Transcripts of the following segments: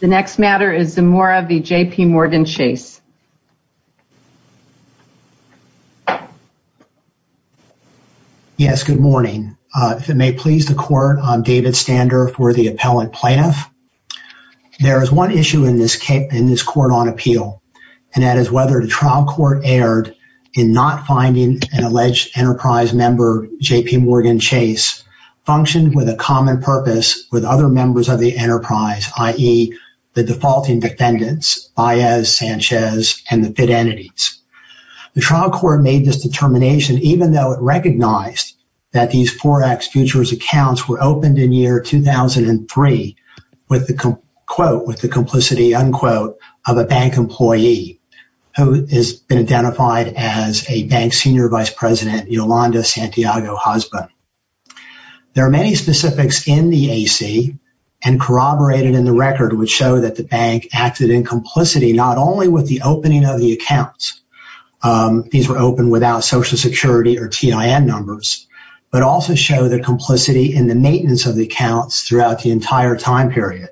The next matter is the Zamora v. JP Morgan Chase. Yes, good morning. If it may please the court, I'm David Stander for the Appellant Plaintiff. There is one issue in this case, in this court on appeal, and that is whether the trial court erred in not finding an alleged Enterprise member JP Morgan Chase functioned with a common purpose with other members of the the defaulting defendants, Baez, Sanchez, and the FID entities. The trial court made this determination even though it recognized that these Forex futures accounts were opened in year 2003 with the, quote, with the complicity, unquote, of a bank employee who has been identified as a bank senior vice president, Yolanda Santiago Husband. There are many specifics in the AC and corroborated in the record which show that the bank acted in complicity not only with the opening of the accounts, these were open without Social Security or TIN numbers, but also show the complicity in the maintenance of the accounts throughout the entire time period.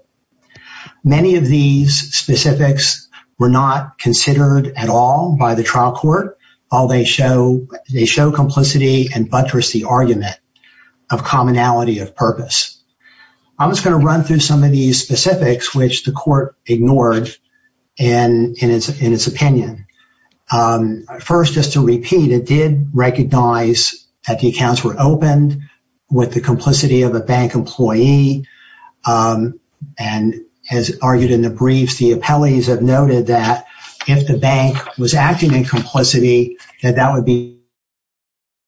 Many of these specifics were not considered at all by the trial court. All they show, they show complicity and some of these specifics which the court ignored in its opinion. First, just to repeat, it did recognize that the accounts were opened with the complicity of a bank employee and, as argued in the briefs, the appellees have noted that if the bank was acting in complicity that that would be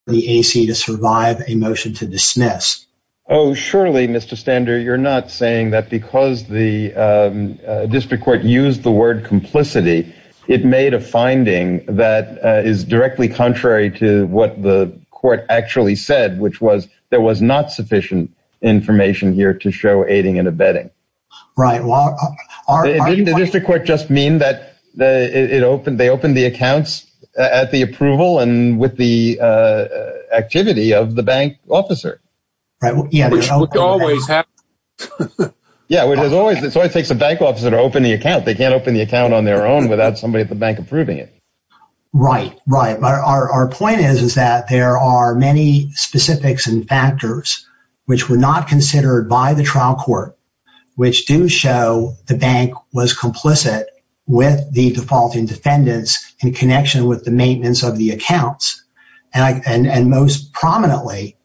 the AC to survive a motion to dismiss. Oh, surely, Mr. Stander, you're not saying that because the District Court used the word complicity, it made a finding that is directly contrary to what the court actually said, which was there was not sufficient information here to show aiding and abetting. Right. Didn't the District Court just mean that they opened the accounts at the approval and with the activity of the bank officer? Yeah, it always takes a bank officer to open the account. They can't open the account on their own without somebody at the bank approving it. Right, right, but our point is is that there are many specifics and factors which were not considered by the trial court, which do show the bank was complicit with the defaulting defendants in connection with the maintenance of the accounts. And most prominently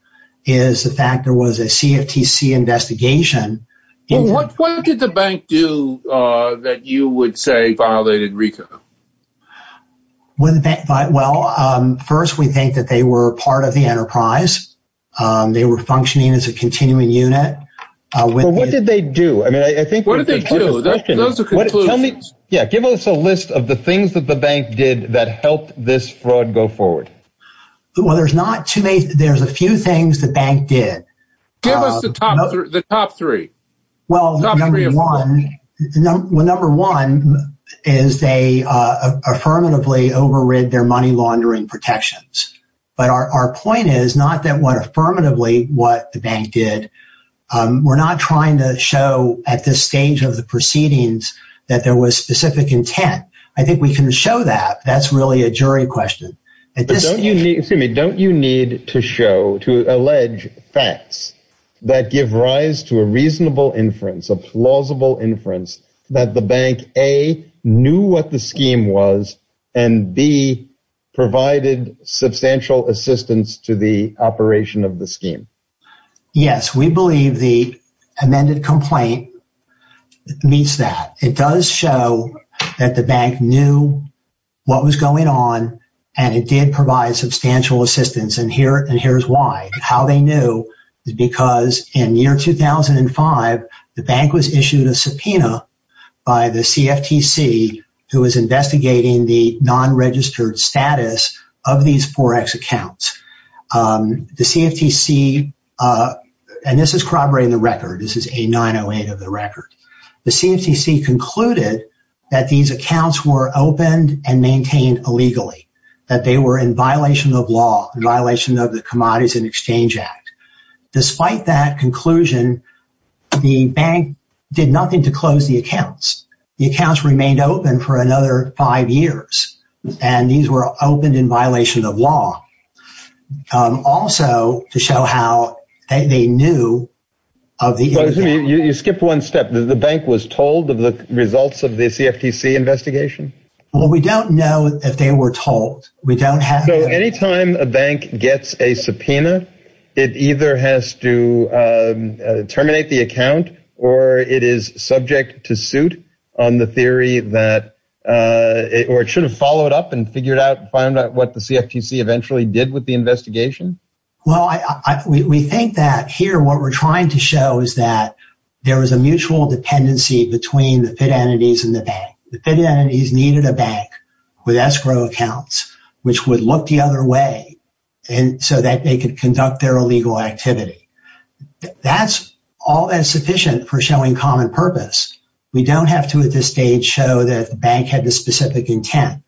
is the fact there was a CFTC investigation. What did the bank do that you would say violated RICO? Well, first we think that they were part of the enterprise. They were functioning as a continuing unit. What did they do? I mean, I think, yeah, give us a list of the things that the bank did that helped this fraud go forward. Well, there's not too many. There's a few things the bank did. Give us the top three. Well, number one is they affirmatively overrid their money laundering protections. But our point is not that what affirmatively what the bank did. We're not trying to show at this stage of the proceedings that there was specific intent. I think we can show that that's really a jury question. Excuse me, don't you need to show, to allege facts that give rise to a reasonable inference, a plausible inference, that the bank, A, knew what the scheme was, and B, provided substantial assistance to the operation of the scheme? Yes, we believe the amended complaint meets that. It does show that the bank knew what was going on, and it did provide substantial assistance. And here, and here's why. How they knew is because in year 2005, the bank was issued a subpoena by the CFTC, who was investigating the non-registered status of these Forex accounts. The CFTC, and this is corroborating the record, this is A-908 of the record. The CFTC concluded that these accounts were opened and maintained illegally, that they were in violation of law, in violation of the Commodities and Exchange Act. Despite that conclusion, the bank did nothing to close the accounts. The accounts remained open for another five years, and these were opened in violation of law. Also, to prove that they knew of the incident. You skipped one step. The bank was told of the results of the CFTC investigation? Well, we don't know if they were told. So, anytime a bank gets a subpoena, it either has to terminate the account, or it is subject to suit on the theory that, or it should have followed up and figured out, found out what the CFTC eventually did with the investigation? Well, we think that here, what we're trying to show is that there was a mutual dependency between the FID entities and the bank. The FID entities needed a bank with escrow accounts, which would look the other way, and so that they could conduct their illegal activity. That's all that's sufficient for showing common purpose. We don't have to, at this stage, show that the bank had the specific intent.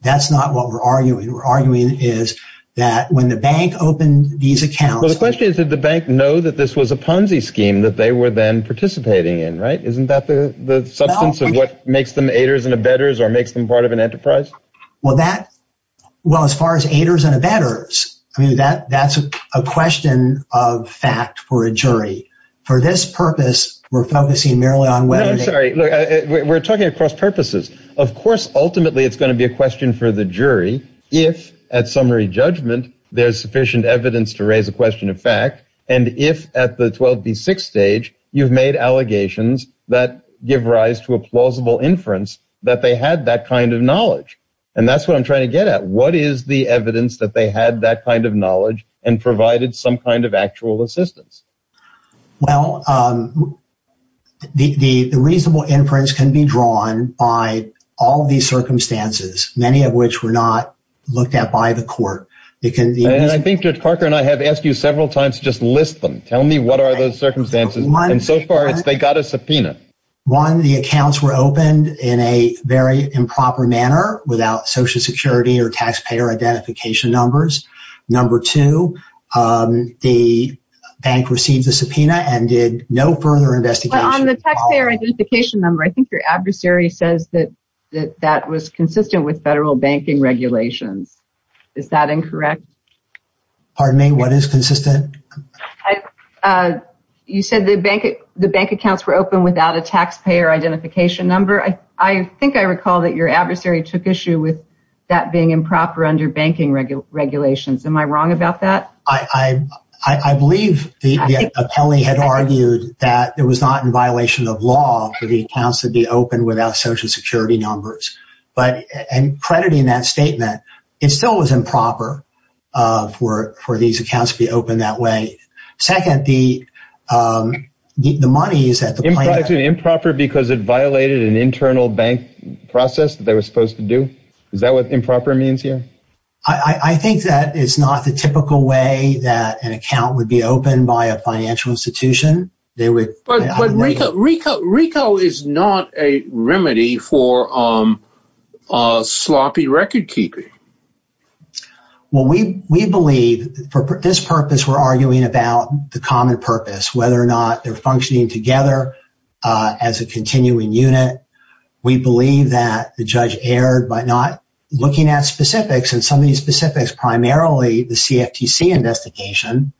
That's not what we're arguing. We're arguing is that when the bank opened these accounts... Did the bank know that this was a Ponzi scheme that they were then participating in, right? Isn't that the substance of what makes them aiders and abettors, or makes them part of an enterprise? Well, as far as aiders and abettors, I mean, that's a question of fact for a jury. For this purpose, we're focusing merely on... No, I'm sorry. We're talking across purposes. Of course, ultimately, it's going to be a question for the jury, if, at summary judgment, there's sufficient evidence to prove that they had that kind of knowledge. And if, at the 12B6 stage, you've made allegations that give rise to a plausible inference that they had that kind of knowledge. And that's what I'm trying to get at. What is the evidence that they had that kind of knowledge and provided some kind of actual assistance? Well, the reasonable inference can be drawn by all of these circumstances, many of which were not looked at by the court. And I think Judge Parker and I have asked you several times to just list them. Tell me what are those circumstances. And so far, they got a subpoena. One, the accounts were opened in a very improper manner without Social Security or taxpayer identification numbers. Number two, the bank received the subpoena and did no further investigation. On the taxpayer identification number, I think your adversary says that that was consistent with federal banking regulations. Is that incorrect? Pardon me, what is consistent? You said the bank accounts were open without a taxpayer identification number. I think I recall that your adversary took issue with that being improper under banking regulations. Am I wrong about that? I believe the appellee had argued that it was not in violation of law for the accounts to be open without Social Security numbers. But in crediting that statement, it still was improper for these accounts to be open that way. Second, the money is at the bank. Improper because it violated an internal bank process that they were supposed to do? Is that what improper means here? I think that is not the typical way that an account would be opened by a financial institution. But RICO is not a remedy for sloppy record keeping. Well, we believe for this purpose, we're arguing about the common purpose, whether or not they're functioning together as a continuing unit. We believe that the judge erred by not looking at specifics and some of these specifics, primarily the CFTC investigation.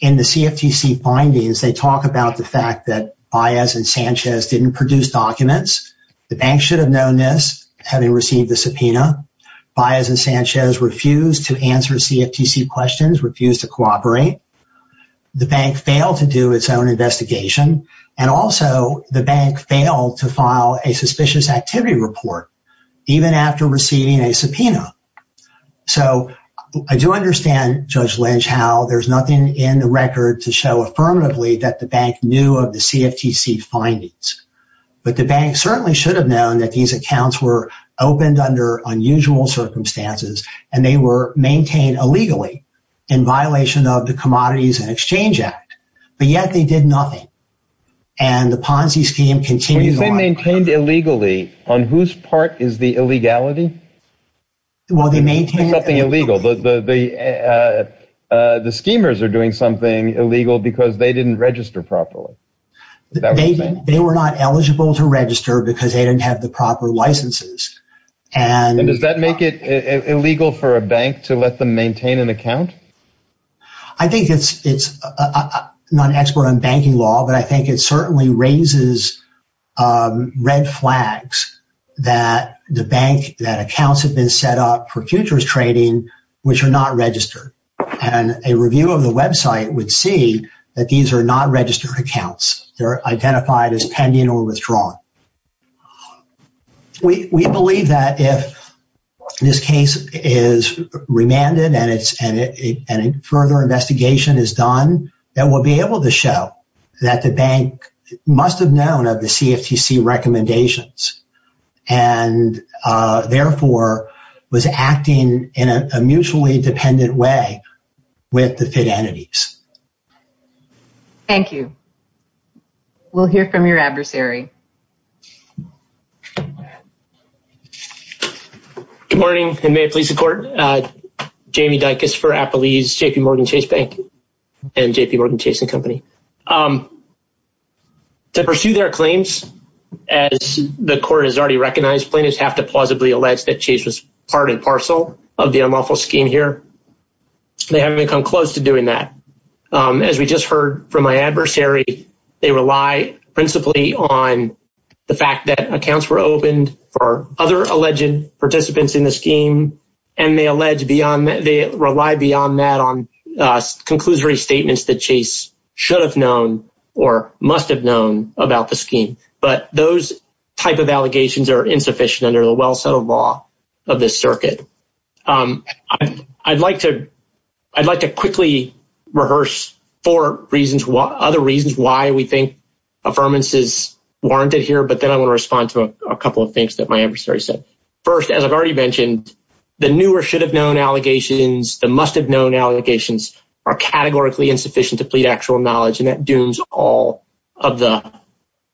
In the CFTC findings, they talk about the fact that Baez and Sanchez didn't produce documents. The bank should have known this, having received the subpoena. Baez and Sanchez refused to answer CFTC questions, refused to cooperate. The bank failed to do its own investigation. And also, the bank failed to file a suspicious activity report, even after receiving a subpoena. So I do understand, Judge Lynch, how there's nothing in the record to show affirmatively that the bank knew of the CFTC findings. But the bank certainly should have known that these accounts were opened under unusual circumstances and they were maintained illegally in violation of the Commodities and Exchange Act. But yet, they did nothing. And the Ponzi scheme continues on. When you say maintained illegally, on whose part is the illegality? Well, they maintained... Something illegal. The schemers are doing something illegal because they didn't register properly. They were not eligible to register because they didn't have the proper licenses. I think it's not an expert on banking law, but I think it certainly raises red flags that the bank, that accounts have been set up for futures trading, which are not registered. And a review of the website would see that these are not registered accounts. They're identified as pending or withdrawn. We believe that if this case is remanded and a further investigation is done, that we'll be able to show that the bank must have known of the CFTC recommendations and therefore was acting in a mutually dependent way with the FID entities. Thank you. We'll hear from your adversary. Good morning, and may it please the court. Jamie Dicus for Appalese, JPMorgan Chase Bank and JPMorgan Chase and Company. To pursue their claims, as the court has already recognized, plaintiffs have to plausibly allege that Chase was part and parcel of the unlawful scheme here. They haven't come close to doing that. As we just heard from my adversary, they rely principally on the fact that accounts were opened for other alleged participants in the scheme, and they rely beyond that on conclusory statements that Chase should have known or must have known about the scheme. But those type of allegations are insufficient under the well-settled law of this circuit. I'd like to quickly rehearse four other reasons why we think affirmances warranted here, but then I want to respond to a couple of things that my adversary said. First, as I've already mentioned, the new or should have known allegations, the must have known allegations are categorically insufficient to plead actual knowledge, and that dooms all of the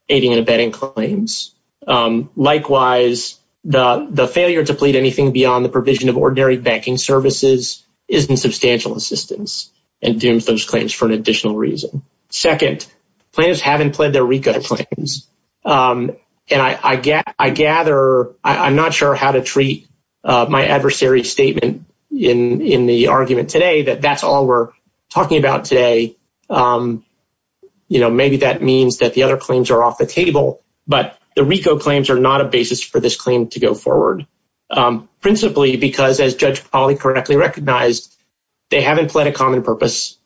aiding and abetting claims. Likewise, the failure to plead anything beyond the provision of ordinary banking services is in substantial assistance and dooms those claims for an additional reason. Second, plaintiffs haven't pled their RICO claims. And I gather, I'm not sure how to treat my adversary's statement in the argument today that that's all we're talking about today. You know, maybe that means that the other claims are off the table, but the RICO claims are not a basis for this claim to go forward. Principally, because as Judge Polley correctly recognized, they haven't pled a common purpose.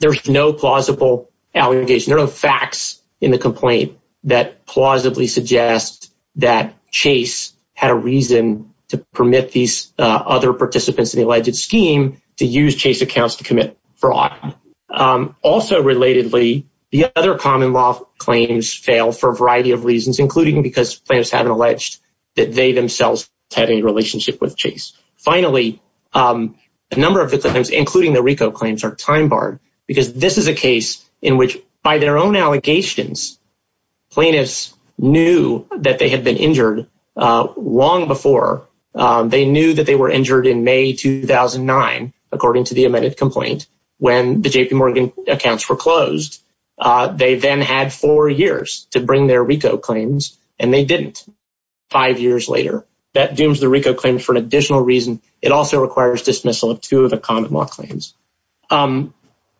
There's no plausible allegation. There are no facts in the complaint that plausibly suggest that Chase had a reason to permit these other participants in the alleged scheme to use Chase accounts to commit fraud. Also, relatedly, the other common law claims fail for a variety of reasons, including because plaintiffs haven't alleged that they themselves have any relationship with Chase. Finally, a number of the claims, including the RICO claims, are time barred because this is a case in which, by their own allegations, plaintiffs knew that they had been injured long before. They knew that they were injured in May 2009, according to the amended complaint, when the JP Morgan accounts were closed. They then had four years to bring their RICO claims, and they didn't. Five years later, that dooms the RICO claim for an additional reason. It also requires dismissal of two of the common law claims.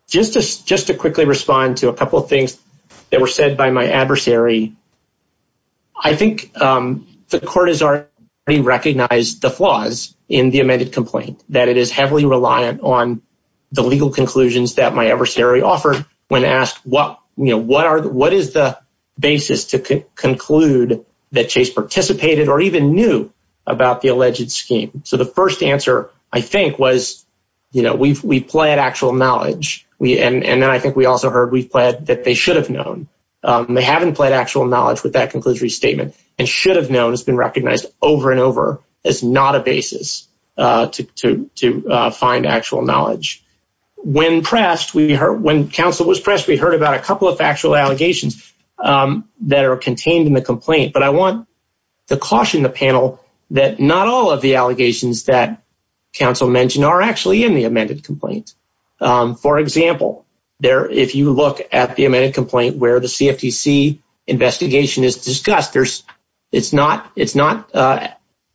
Just to quickly respond to a couple of things that were said by my adversary, I think the court has already recognized the flaws in the amended complaint, that it is heavily reliant on the legal conclusions that my adversary offered when asked, what is the participated or even knew about the alleged scheme? The first answer, I think, was we've pled actual knowledge, and then I think we also heard we've pled that they should have known. They haven't pled actual knowledge with that conclusory statement, and should have known has been recognized over and over as not a basis to find actual knowledge. When counsel was pressed, we heard about a couple of factual allegations that are contained in the complaint, but I want to caution the panel that not all of the allegations that counsel mentioned are actually in the amended complaint. For example, if you look at the amended complaint where the CFTC investigation is discussed, it's not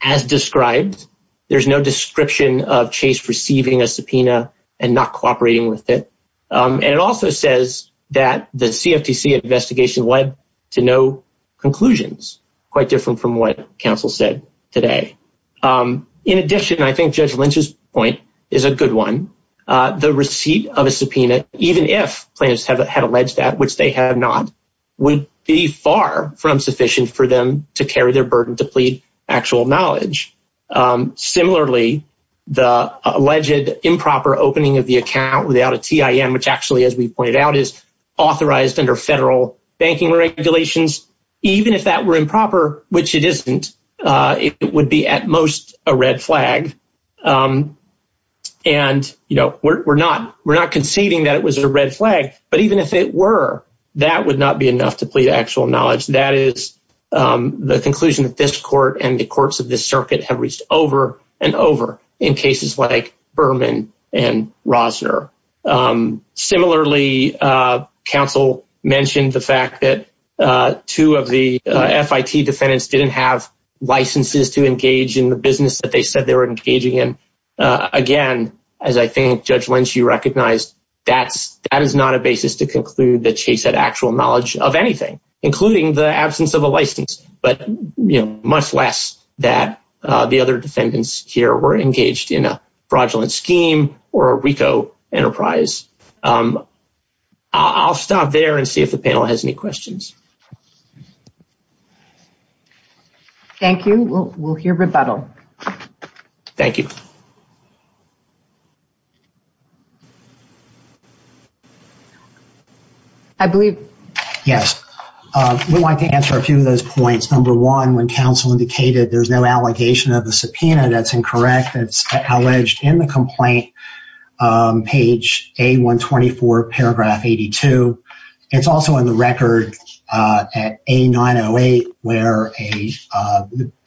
as described. There's no description of Chase receiving a subpoena and not cooperating with it. And it also says that the CFTC investigation led to no conclusions, quite different from what counsel said today. In addition, I think Judge Lynch's point is a good one. The receipt of a subpoena, even if plaintiffs had alleged that, which they have not, would be far from sufficient for them to carry their burden to plead actual knowledge. Similarly, the alleged improper opening of the account without a TIN, which actually, as we pointed out, is authorized under federal banking regulations, even if that were improper, which it isn't, it would be at most a red flag. And, you know, we're not conceding that it was a red flag, but even if it were, that would not be enough to plead actual knowledge. That is the conclusion that this court and the courts of this circuit have reached over and over in cases like Berman and Rosner. Similarly, counsel mentioned the fact that two of the FIT defendants didn't have licenses to engage in the business that they said they were engaging in. Again, as I think Judge Lynch, you recognized, that is not a basis to conclude that Chase had actual knowledge of anything, including the absence of a license. But, you know, much less that the other defendants here were engaged in a fraudulent scheme or a RICO enterprise. I'll stop there and see if the panel has any questions. Thank you. We'll hear rebuttal. Thank you. I believe, yes, we want to answer a few of those points. Number one, when counsel indicated there's no allegation of the subpoena, that's incorrect. It's alleged in the complaint, page A124, paragraph 82. It's also in the record at A908, where a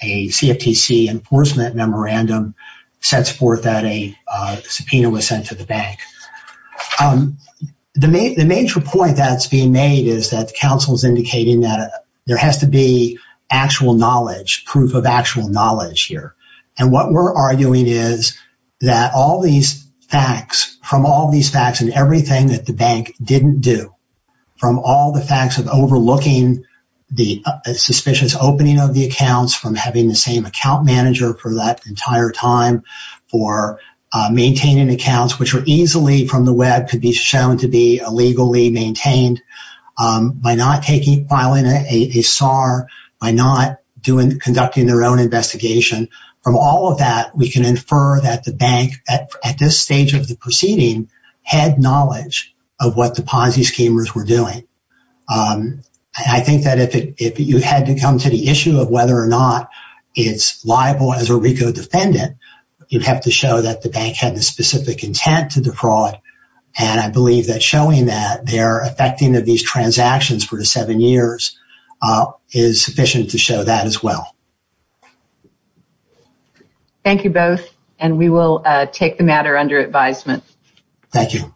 CFTC enforcement memorandum says that the plaintiff sets forth that a subpoena was sent to the bank. The major point that's being made is that counsel's indicating that there has to be actual knowledge, proof of actual knowledge here. And what we're arguing is that all these facts, from all these facts and everything that the bank didn't do, from all the facts of overlooking the suspicious opening of the accounts, from having the same account manager for that entire time, for maintaining accounts, which were easily, from the web, could be shown to be illegally maintained by not taking, filing a SAR, by not conducting their own investigation. From all of that, we can infer that the bank, at this stage of the proceeding, had knowledge of what the Ponzi schemers were doing. And I think that if you had to come to the issue of whether or not it's liable as a RICO defendant, you'd have to show that the bank had the specific intent to defraud. And I believe that showing that they're affecting these transactions for the seven years is sufficient to show that as well. Thank you both. And we will take the matter under advisement. Thank you.